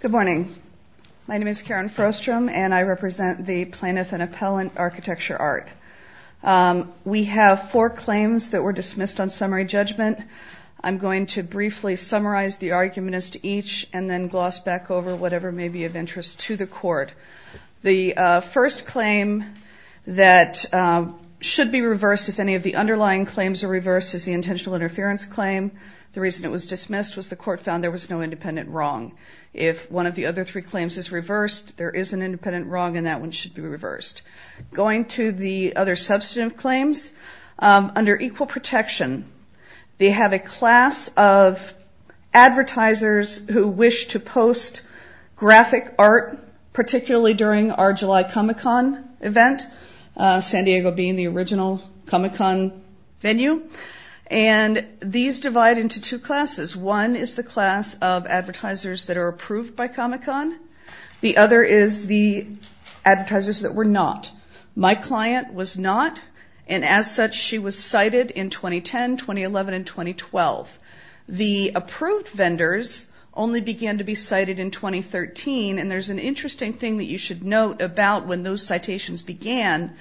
Good morning. My name is Karen Frostrom and I represent the Plaintiff and Appellant Architecture Art. We have four claims that were dismissed on summary judgment. I'm going to briefly summarize the argument as to each and then gloss back over whatever may be of interest to the court. The first claim that should be reversed if any of the other three claims is reversed, the reason it was dismissed was the court found there was no independent wrong. If one of the other three claims is reversed, there is an independent wrong and that one should be reversed. Going to the other substantive claims, under equal protection they have a class of advertisers who wish to post graphic art, particularly during our July Comic-Con event, San Diego being the original Comic-Con venue, and these divide into two classes. One is the class of advertisers that are approved by Comic-Con. The other is the advertisers that were not. My client was not and as such she was cited in 2010, 2011, and 2012. The approved vendors only began to be cited in 2013 and there's an interesting thing that you should note about when those citations began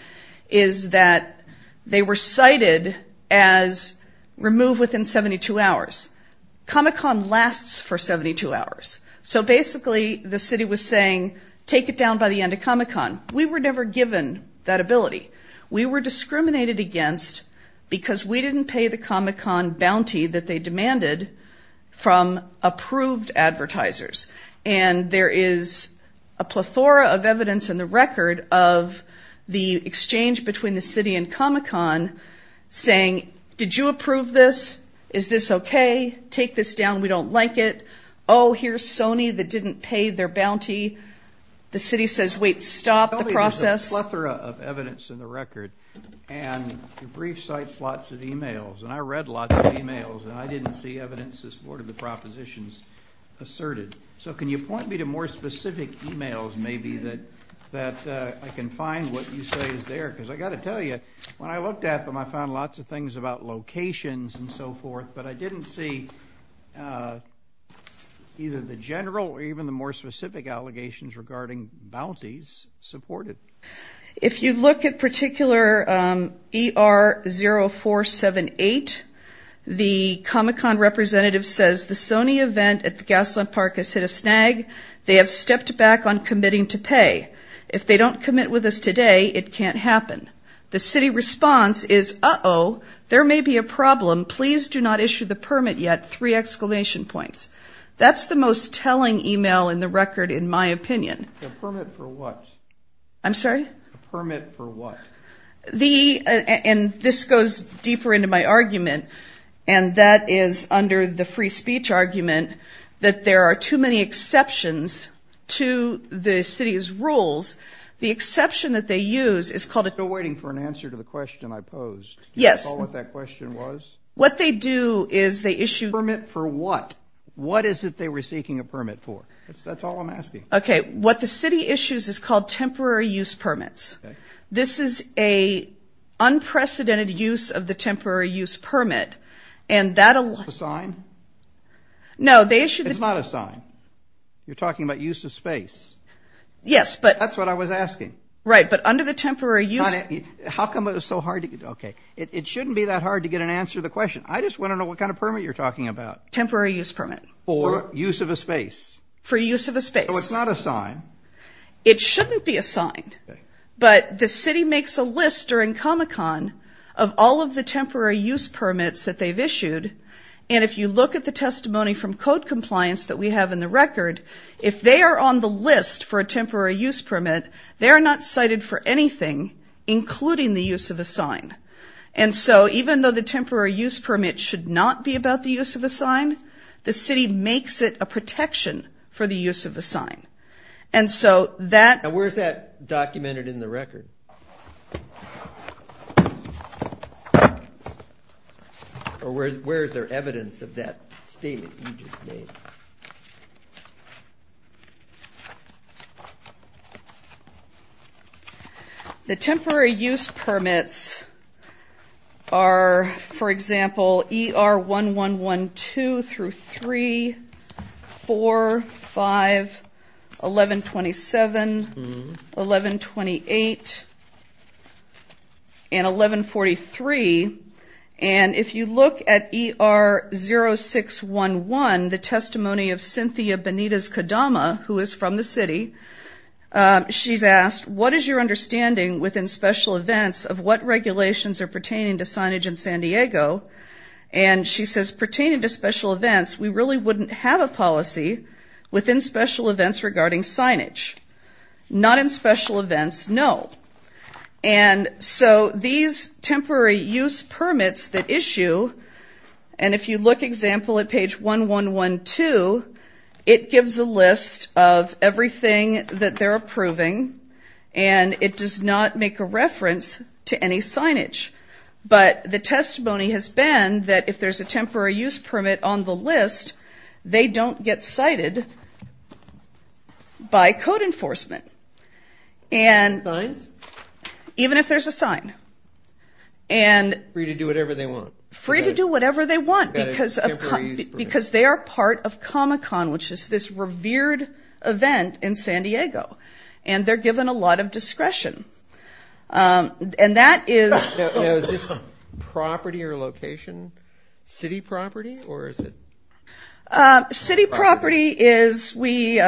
is that they were cited as removed within 72 hours. Comic-Con lasts for 72 hours. So basically the city was saying take it down by the end of Comic-Con. We were never given that ability. We were discriminated against because we didn't pay the Comic-Con bounty that they demanded from approved advertisers. And there is a plethora of evidence in the record of the exchange between the city and Comic-Con saying, did you approve this? Is this okay? Take this down. We don't like it. Oh, here's Sony that didn't pay their bounty. The city says, wait, stop the process. There's a plethora of evidence in the record and your brief cites lots of emails and I read lots of emails and I didn't see evidence as part of the propositions asserted. So can you point me to more specific emails maybe that I can find what you say is there? Because I got to tell you, when I looked at them I found lots of things about locations and so forth, but I didn't see either the general or even the more specific allegations regarding bounties supported. If you look at particular ER 0478, the Comic-Con representative says the Sony event at the Gaslamp Park has hit a snag. They have stepped back on committing to pay. If they don't commit with us today, it can't happen. The city in my opinion. Permit for what? I'm sorry? Permit for what? The and this goes deeper into my argument and that is under the free speech argument that there are too many exceptions to the city's rules. The exception that they use is called a waiting for an answer to the question I posed. Yes, that question was issue. Permit for what? What is it they were seeking a permit for? That's all I'm asking. Okay, what the city issues is called temporary use permits. This is a unprecedented use of the temporary use permit and that... Is it a sign? No, they issued... It's not a sign. You're talking about use of space. Yes, but... I just want to know what kind of permit you're talking about. Temporary use permit. For use of a space. For use of a space. So it's not a sign. It shouldn't be a sign, but the city makes a list during Comic-Con of all of the temporary use permits that they've issued and if you look at the testimony from code compliance that we have in the record, if they are on the list for a temporary use permit, they're not cited for anything including the use of a sign. And so even though the temporary use permit should not be about the use of a sign, the city makes it a protection for the use of a sign. And so that... And where's that documented in the record? Or where is there evidence of that statement you just made? The temporary use permits are, for example, ER 1112 through 3, 4, 5, 1127, 1128, and 1143. And if you look at ER 0611, the testimony of Cynthia Benitez-Kadama, who is from the city, she's asked, what is your understanding within special events of what regulations are pertaining to signage in San Diego? And she says, pertaining to special events, we really wouldn't have a policy within special events regarding signage. Not in special events, no. And so these temporary use permits that issue, and if you look, example, at page 1112, it gives a list of everything that they're approving and it does not make a Even if there's a sign. And... Free to do whatever they want. Free to do whatever they want because they are part of Comic-Con, which is this revered event in San Diego. And they're given a lot of discretion. And that is... Now, is this property or location? City property? Or is it... City property is we...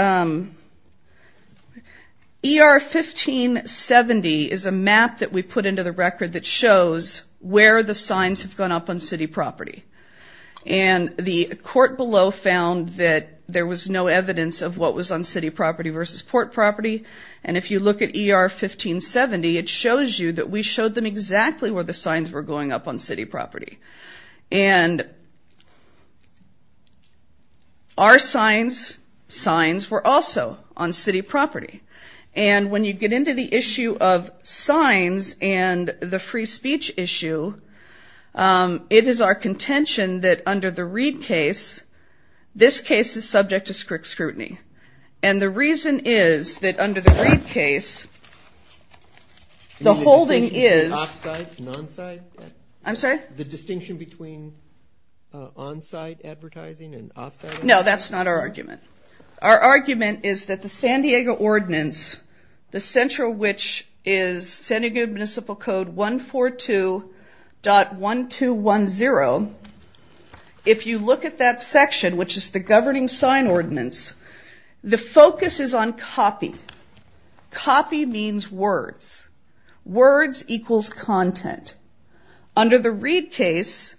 ER 1570 is a map that we put into the record that shows where the signs have gone up on city property. And the court below found that there was no evidence of what was on city property versus port property. And if you look at ER 1570, it shows you that we showed them exactly where the signs were going up on city property. And... Our signs, signs were also on city property. And when you get into the issue of signs and the free speech issue, it is our contention that under the Reed case, this case is subject to scrutiny. And the reason is that under the Reed case... The holding is... Off-site? Non-site? I'm sorry? The distinction between on-site advertising and off-site advertising? No, that's not our argument. Our argument is that the San Diego Ordinance, the central which is San Diego Municipal Code 142.1210. If you look at that section, which is the Governing Sign Ordinance, the focus is on copy. Copy means words. Words equals content. Under the Reed case,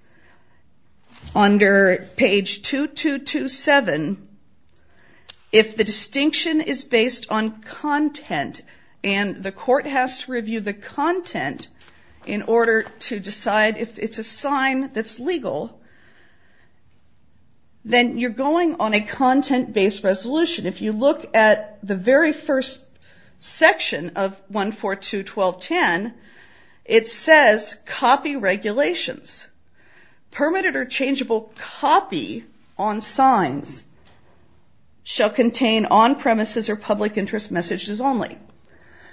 under page 2227, if the distinction is based on content and the court has to review the content in order to decide if it's a sign that's legal, then you're going on a content-based resolution. If you look at the very first section of 142.1210, it says copy regulations. Permitted or changeable copy on signs shall contain on-premises or public interest messages only.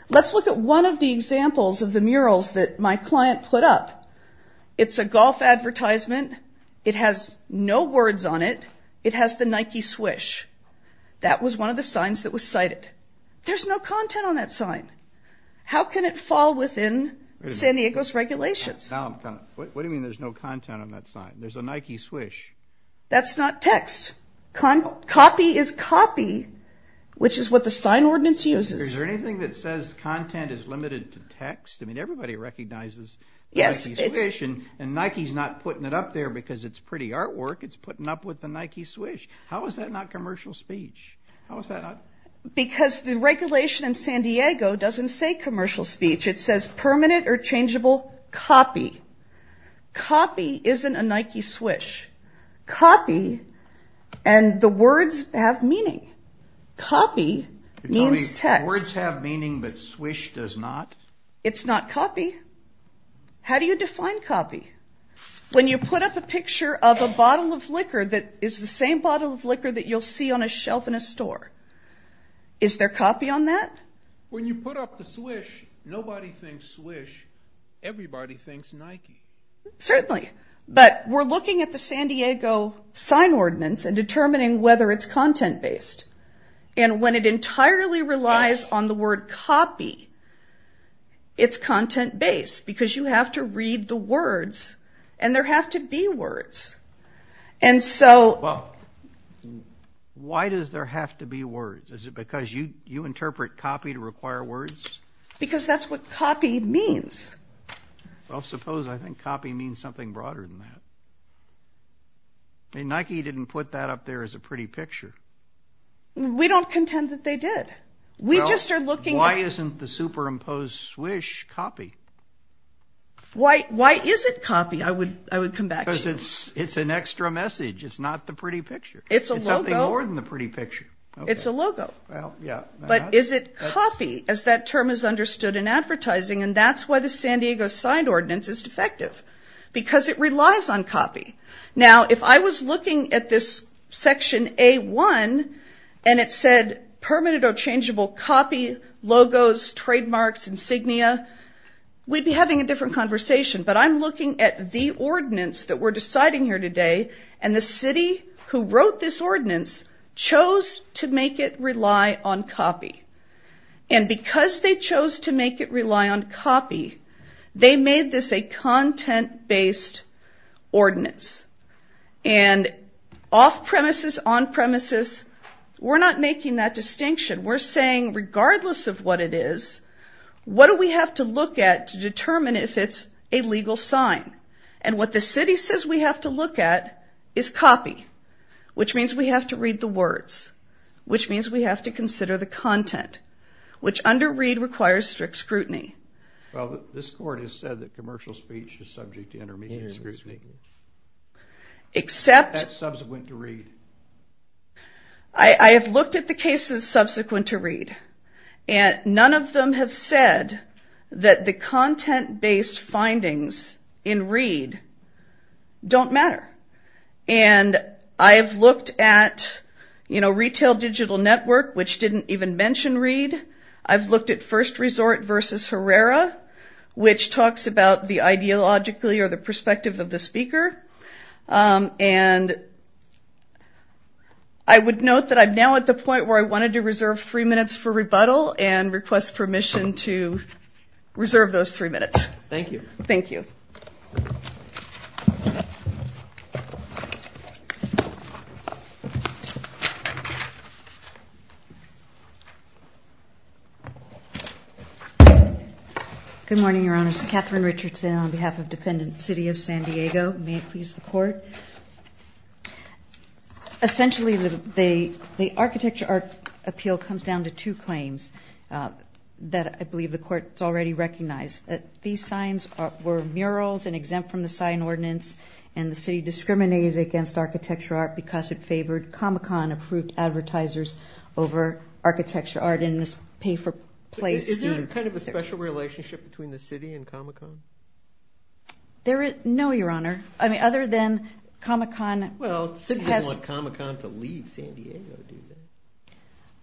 Let's look at one of the examples of the murals that my client put up. It's a golf advertisement. It has no words on it. It has the Nike Swish. That was one of the signs that was cited. There's no content on that sign. How can it fall within San Diego's regulations? What do you mean there's no content on that sign? There's a Nike Swish. That's not text. Copy is copy, which is what the sign ordinance uses. Is there anything that says content is limited to text? I mean, everybody recognizes the Nike Swish, and Nike's not putting it up there because it's pretty artwork. It's putting up with the Nike Swish. How is that not commercial speech? How is that not? Because the regulation in San Diego doesn't say commercial speech. It says permanent or changeable copy. Copy isn't a Nike Swish. Copy and the words have meaning. Copy means text. The words have meaning, but Swish does not? It's not copy. How do you define copy? When you put up a picture of a bottle of liquor that is the same bottle of liquor that you'll see on a shelf in a store, is there copy on that? When you put up the Swish, nobody thinks Swish. Everybody thinks Nike. Certainly. But we're looking at the San Diego sign ordinance and determining whether it's content-based. And when it entirely relies on the word copy, it's content-based because you have to read the words, and there have to be words. And so – Well, why does there have to be words? Is it because you interpret copy to require words? Because that's what copy means. Well, suppose I think copy means something broader than that. Nike didn't put that up there as a pretty picture. We don't contend that they did. We just are looking at – Why isn't the superimposed Swish copy? Why is it copy? I would come back to you. Because it's an extra message. It's not the pretty picture. It's a logo. It's something more than the pretty picture. It's a logo. Well, yeah. But is it copy as that term is understood in advertising? And that's why the San Diego signed ordinance is defective, because it relies on copy. Now, if I was looking at this Section A-1, and it said, Permanent or Changeable Copy Logos, Trademarks, Insignia, we'd be having a different conversation. But I'm looking at the ordinance that we're deciding here today, and the city who wrote this ordinance chose to make it rely on copy. And because they chose to make it rely on copy, they made this a content-based ordinance. And off-premises, on-premises, we're not making that distinction. We're saying, regardless of what it is, what do we have to look at to determine if it's a legal sign? And what the city says we have to look at is copy, which means we have to read the words, which means we have to consider the content, which under read requires strict scrutiny. Well, this court has said that commercial speech is subject to intermediate scrutiny. Except... That's subsequent to read. I have looked at the cases subsequent to read, and none of them have said that the content-based findings in read don't matter. And I've looked at, you know, Retail Digital Network, which didn't even mention read. I've looked at First Resort versus Herrera, which talks about the ideologically or the perspective of the speaker. And I would note that I'm now at the point where I wanted to reserve three minutes for rebuttal and request permission to reserve those three minutes. Thank you. Thank you. Good morning, Your Honors. Katherine Richardson on behalf of Defendant City of San Diego. May it please the Court. Essentially, the architecture appeal comes down to two claims that I believe the Court has already recognized. These signs were murals and exempt from the sign ordinance, and the city discriminated against architecture art because it favored Comic-Con-approved advertisers over architecture art in this pay-for-play scheme. Is there kind of a special relationship between the city and Comic-Con? No, Your Honor. I mean, other than Comic-Con. Well, the city doesn't want Comic-Con to leave San Diego, do they?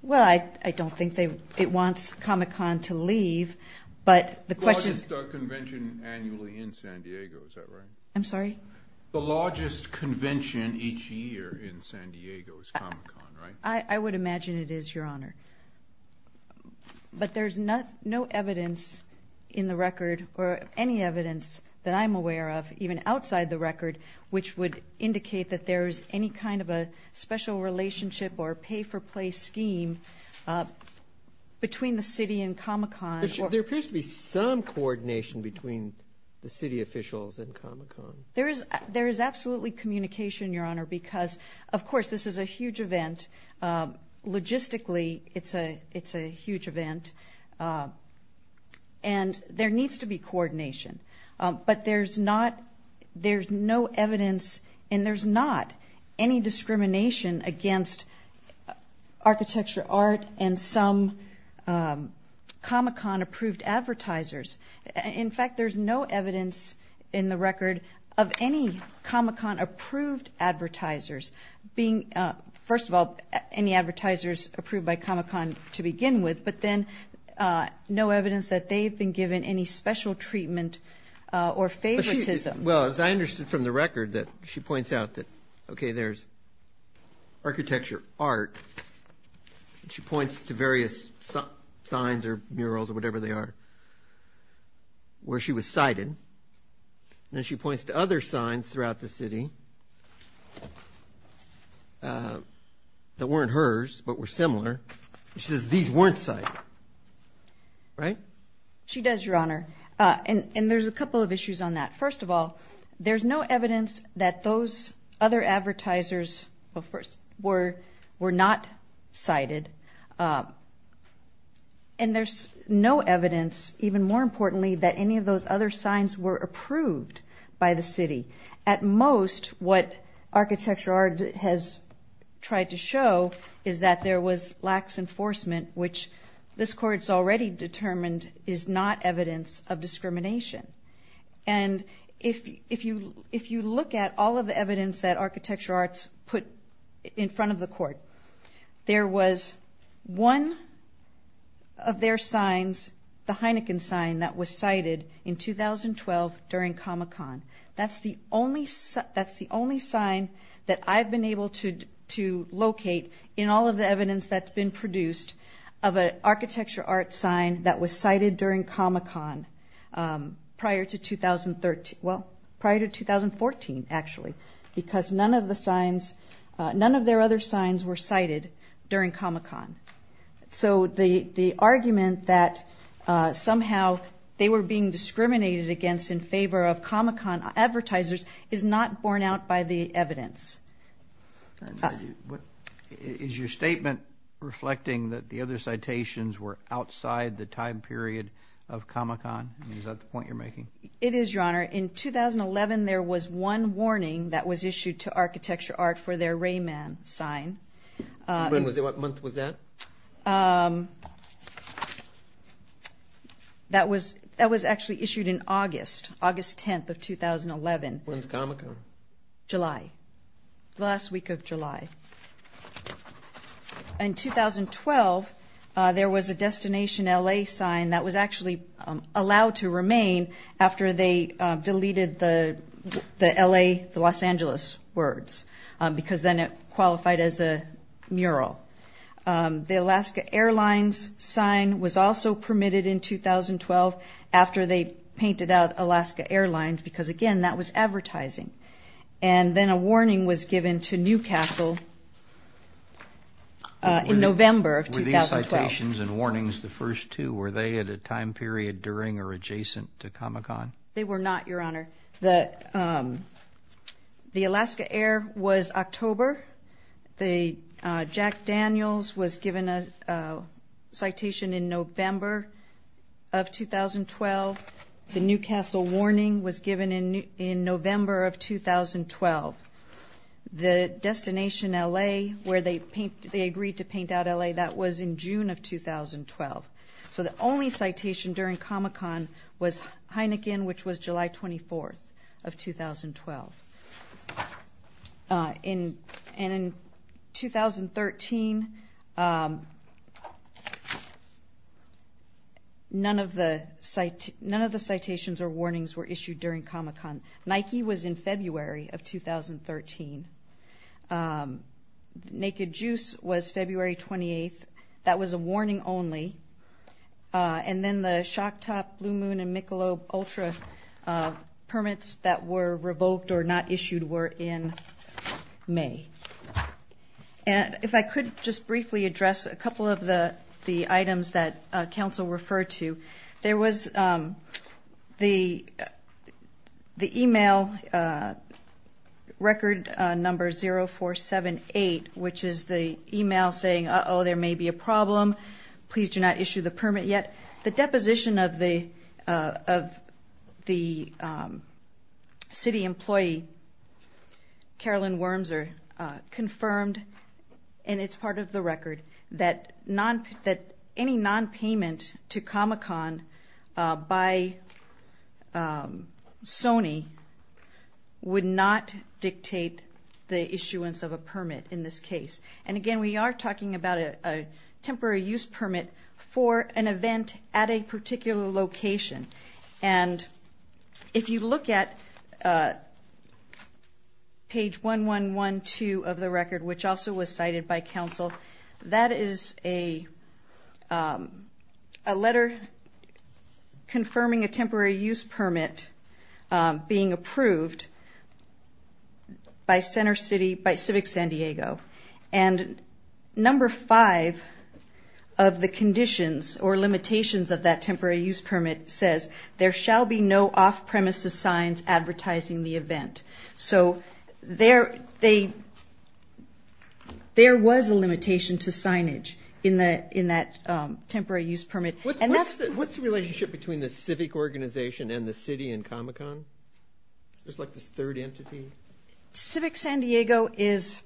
Well, I don't think it wants Comic-Con to leave, but the question is. The largest convention annually in San Diego, is that right? I'm sorry? The largest convention each year in San Diego is Comic-Con, right? I would imagine it is, Your Honor. But there's no evidence in the record, or any evidence that I'm aware of, even outside the record, which would indicate that there is any kind of a special relationship or pay-for-play scheme between the city and Comic-Con. There appears to be some coordination between the city officials and Comic-Con. There is absolutely communication, Your Honor, because, of course, this is a huge event. Logistically, it's a huge event, and there needs to be coordination. But there's no evidence, and there's not any discrimination against architecture art and some Comic-Con-approved advertisers. In fact, there's no evidence in the record of any Comic-Con-approved advertisers being, first of all, any advertisers approved by Comic-Con to begin with, but then no evidence that they've been given any special treatment or favoritism. Well, as I understood from the record, that she points out that, okay, there's architecture art, and she points to various signs or murals or whatever they are where she was cited, and then she points to other signs throughout the city that weren't hers but were similar. She says these weren't cited, right? She does, Your Honor, and there's a couple of issues on that. First of all, there's no evidence that those other advertisers were not cited, and there's no evidence, even more importantly, that any of those other signs were approved by the city. At most, what architecture art has tried to show is that there was lax enforcement, which this Court's already determined is not evidence of discrimination. And if you look at all of the evidence that architecture arts put in front of the Court, there was one of their signs, the Heineken sign, that was cited in 2012 during Comic-Con. That's the only sign that I've been able to locate in all of the evidence that's been produced of an architecture art sign that was cited during Comic-Con prior to 2013, well, prior to 2014, actually, because none of their other signs were cited during Comic-Con. So the argument that somehow they were being discriminated against in favor of Comic-Con advertisers is not borne out by the evidence. Is your statement reflecting that the other citations were outside the time period of Comic-Con? Is that the point you're making? It is, Your Honor. In 2011, there was one warning that was issued to architecture art for their Rayman sign. And what month was that? That was actually issued in August, August 10th of 2011. When's Comic-Con? July, the last week of July. In 2012, there was a Destination LA sign that was actually allowed to remain after they deleted the LA, the Los Angeles words because then it qualified as a mural. The Alaska Airlines sign was also permitted in 2012 after they painted out Alaska Airlines because, again, that was advertising. And then a warning was given to Newcastle in November of 2012. Were these citations and warnings the first two? Were they at a time period during or adjacent to Comic-Con? They were not, Your Honor. The Alaska Air was October. The Jack Daniels was given a citation in November of 2012. The Newcastle warning was given in November of 2012. The Destination LA where they agreed to paint out LA, that was in June of 2012. So the only citation during Comic-Con was Heineken, which was July 24th of 2012. And in 2013, none of the citations or warnings were issued during Comic-Con. Nike was in February of 2013. Naked Juice was February 28th. That was a warning only. And then the Shock Top, Blue Moon, and Michelob Ultra permits that were revoked or not issued were in May. And if I could just briefly address a couple of the items that counsel referred to. There was the e-mail record number 0478, which is the e-mail saying, Uh-oh, there may be a problem. Please do not issue the permit yet. The deposition of the city employee, Carolyn Wormser, confirmed, and it's part of the record, that any nonpayment to Comic-Con by Sony would not dictate the issuance of a permit in this case. And again, we are talking about a temporary use permit for an event at a particular location. And if you look at page 1112 of the record, which also was cited by counsel, that is a letter confirming a temporary use permit being approved by Civic San Diego. And number five of the conditions or limitations of that temporary use permit says, There shall be no off-premises signs advertising the event. So there was a limitation to signage in that temporary use permit. What's the relationship between the Civic organization and the city and Comic-Con? There's like this third entity? Civic San Diego is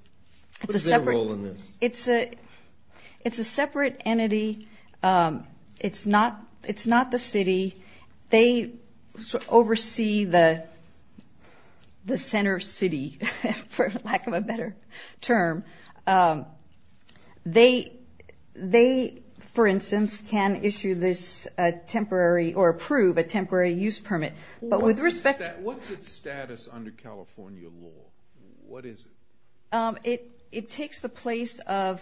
a separate entity. It's not the city. They oversee the center city, for lack of a better term. They, for instance, can issue this temporary or approve a temporary use permit. What's its status under California law? What is it? It takes the place of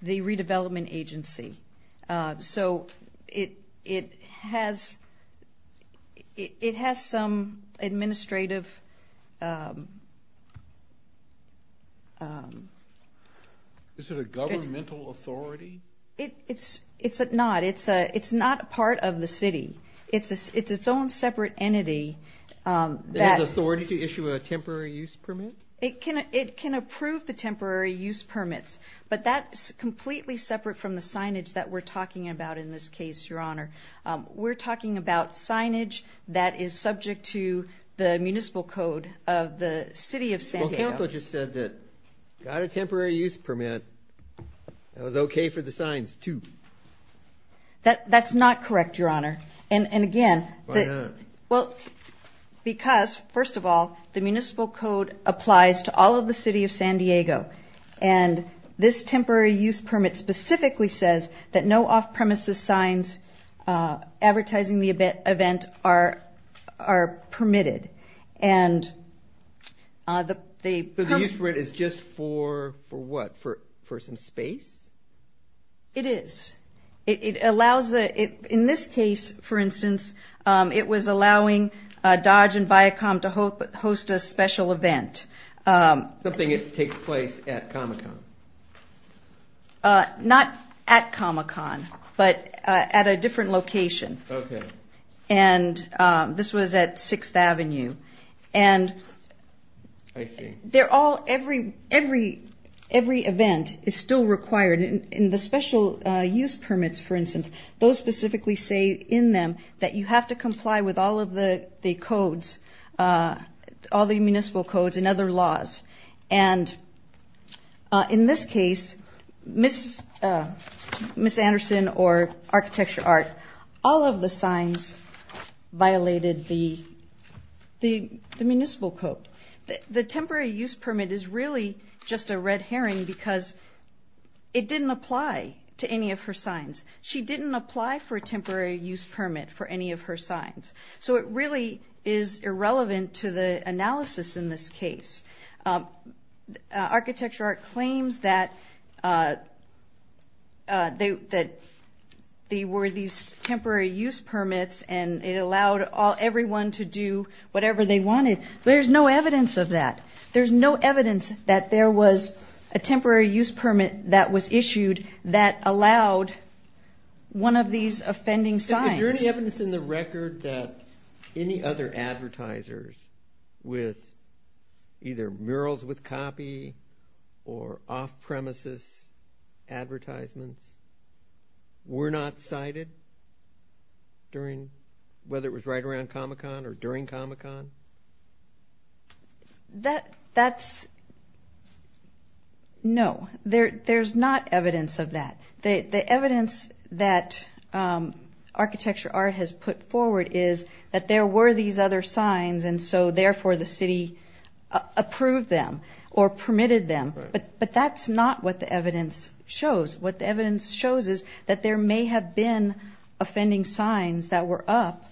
the redevelopment agency. So it has some administrative. Is it a governmental authority? It's not. It's not a part of the city. It's its own separate entity. It has authority to issue a temporary use permit? It can approve the temporary use permits. But that's completely separate from the signage that we're talking about in this case, Your Honor. We're talking about signage that is subject to the municipal code of the city of San Diego. Well, counsel just said that got a temporary use permit. That was okay for the signs, too. That's not correct, Your Honor. And again, because, first of all, the municipal code applies to all of the city of San Diego. And this temporary use permit specifically says that no off-premises signs advertising the event are permitted. So the use permit is just for what? For some space? It is. In this case, for instance, it was allowing Dodge and Viacom to host a special event. Something that takes place at Comic-Con? Not at Comic-Con, but at a different location. Okay. And this was at 6th Avenue. And every event is still required. In the special use permits, for instance, those specifically say in them that you have to comply with all of the codes, all the municipal codes and other laws. And in this case, Miss Anderson or Architecture Art, all of the signs violated the municipal code. The temporary use permit is really just a red herring because it didn't apply to any of her signs. She didn't apply for a temporary use permit for any of her signs. So it really is irrelevant to the analysis in this case. Architecture Art claims that there were these temporary use permits and it allowed everyone to do whatever they wanted. There's no evidence of that. There's no evidence that there was a temporary use permit that was issued that allowed one of these offending signs. Is there any evidence in the record that any other advertisers with either murals with copy or off-premises advertisements were not cited during, whether it was right around Comic-Con or during Comic-Con? That's, no. There's not evidence of that. The evidence that Architecture Art has put forward is that there were these other signs, and so therefore the city approved them or permitted them. But that's not what the evidence shows. What the evidence shows is that there may have been offending signs that were up,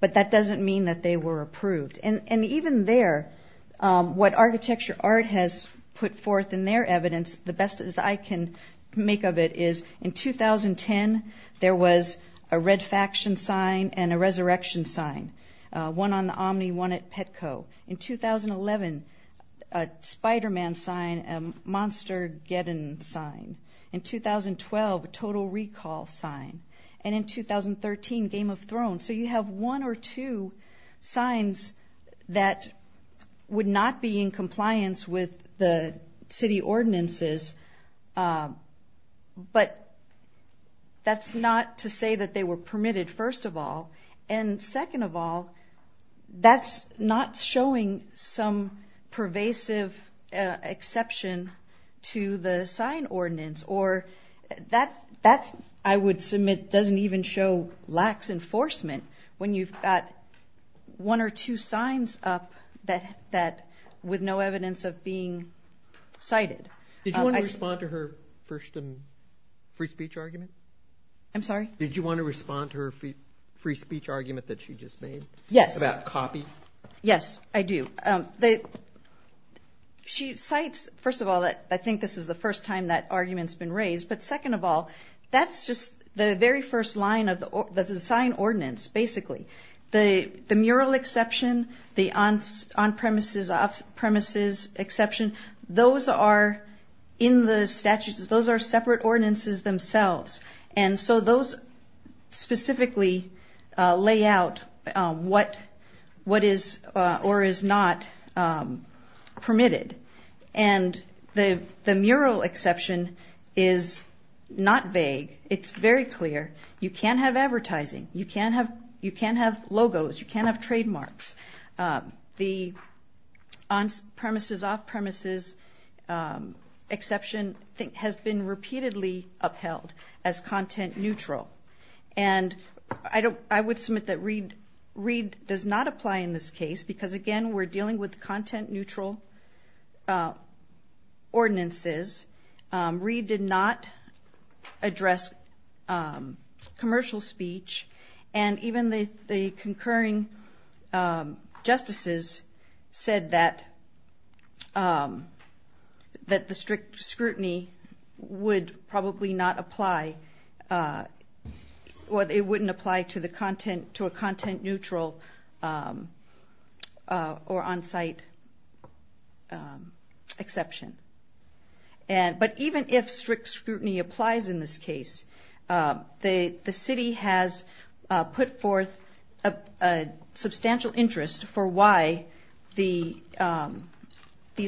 but that doesn't mean that they were approved. And even there, what Architecture Art has put forth in their evidence, the best that I can make of it, is in 2010 there was a Red Faction sign and a Resurrection sign, one on the Omni, one at Petco. In 2011, a Spider-Man sign, a Monstergeddon sign. In 2012, a Total Recall sign. And in 2013, Game of Thrones. So you have one or two signs that would not be in compliance with the city ordinances, but that's not to say that they were permitted, first of all. And second of all, that's not showing some pervasive exception to the sign ordinance. Or that, I would submit, doesn't even show lax enforcement when you've got one or two signs up with no evidence of being cited. Did you want to respond to her first free speech argument? I'm sorry? Did you want to respond to her free speech argument that she just made? Yes. About copy? Yes, I do. She cites, first of all, I think this is the first time that argument's been raised, but second of all, that's just the very first line of the sign ordinance, basically. The mural exception, the on-premises, off-premises exception, those are in the statutes. Those are separate ordinances themselves. And so those specifically lay out what is or is not permitted. And the mural exception is not vague. It's very clear. You can't have advertising. You can't have logos. You can't have trademarks. The on-premises, off-premises exception has been repeatedly upheld as content neutral. And I would submit that Reed does not apply in this case because, again, we're dealing with content neutral ordinances. Reed did not address commercial speech. And even the concurring justices said that the strict scrutiny would probably not apply or it wouldn't apply to a content neutral or on-site exception. But even if strict scrutiny applies in this case, the city has put forth a substantial interest for why these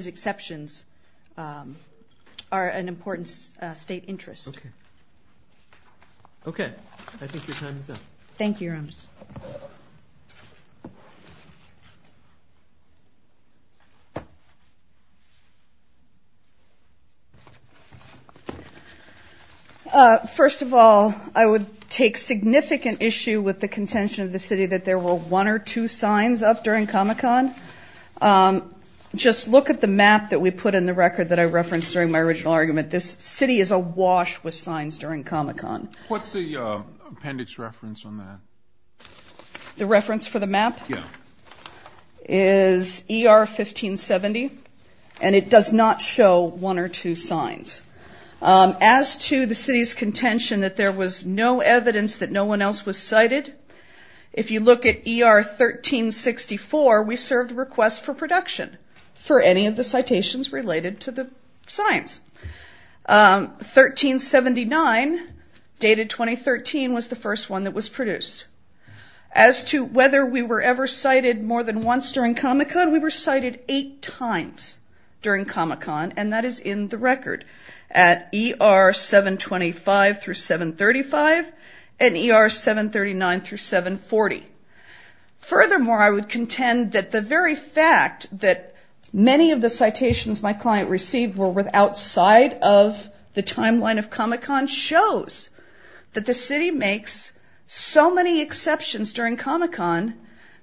exceptions are an important state interest. Okay. Okay. I think your time is up. Thank you, Your Honors. First of all, I would take significant issue with the contention of the city that there were one or two signs up during Comic-Con. Just look at the map that we put in the record that I referenced during my original argument. This city is awash with signs during Comic-Con. What's the appendix reference on that? The reference for the map? Yeah. Is ER 1570. And it does not show one or two signs. As to the city's contention that there was no evidence that no one else was cited, if you look at ER 1364, we served requests for production for any of the citations related to the signs. 1379, dated 2013, was the first one that was produced. As to whether we were ever cited more than once during Comic-Con, we were cited eight times during Comic-Con, and that is in the record at ER 725 through 735 and ER 739 through 740. Furthermore, I would contend that the very fact that many of the citations my client received were outside of the timeline of Comic-Con shows that the city makes so many exceptions during Comic-Con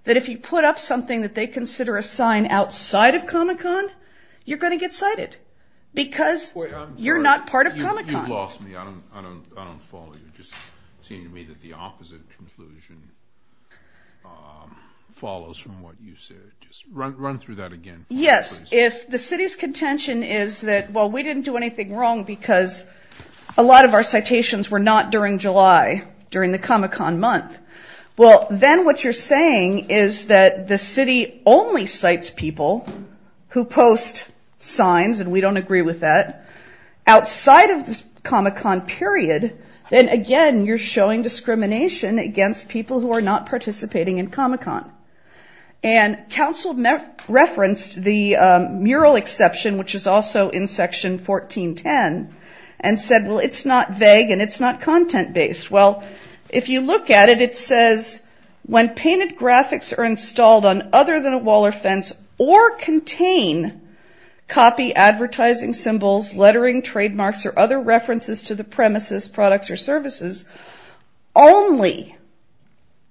that if you put up something that they consider a sign outside of Comic-Con, you're going to get cited because you're not part of Comic-Con. You've lost me. I don't follow you. It just seemed to me that the opposite conclusion follows from what you said. Just run through that again. Yes. If the city's contention is that, well, we didn't do anything wrong because a lot of our citations were not during July, during the Comic-Con month, well, then what you're saying is that the city only cites people who post signs, and we don't agree with that. Outside of the Comic-Con period, then, again, you're showing discrimination against people who are not participating in Comic-Con. And council referenced the mural exception, which is also in Section 1410, and said, well, it's not vague and it's not content-based. Well, if you look at it, it says, when painted graphics are installed on other than a wall or fence or contain copy advertising symbols, lettering, trademarks, or other references to the premises, products, or services, only,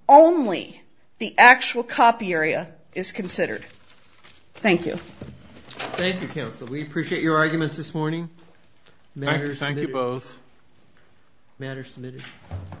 only the actual copy area is considered. Thank you. Thank you, council. We appreciate your arguments this morning. Thank you both. Matters submitted.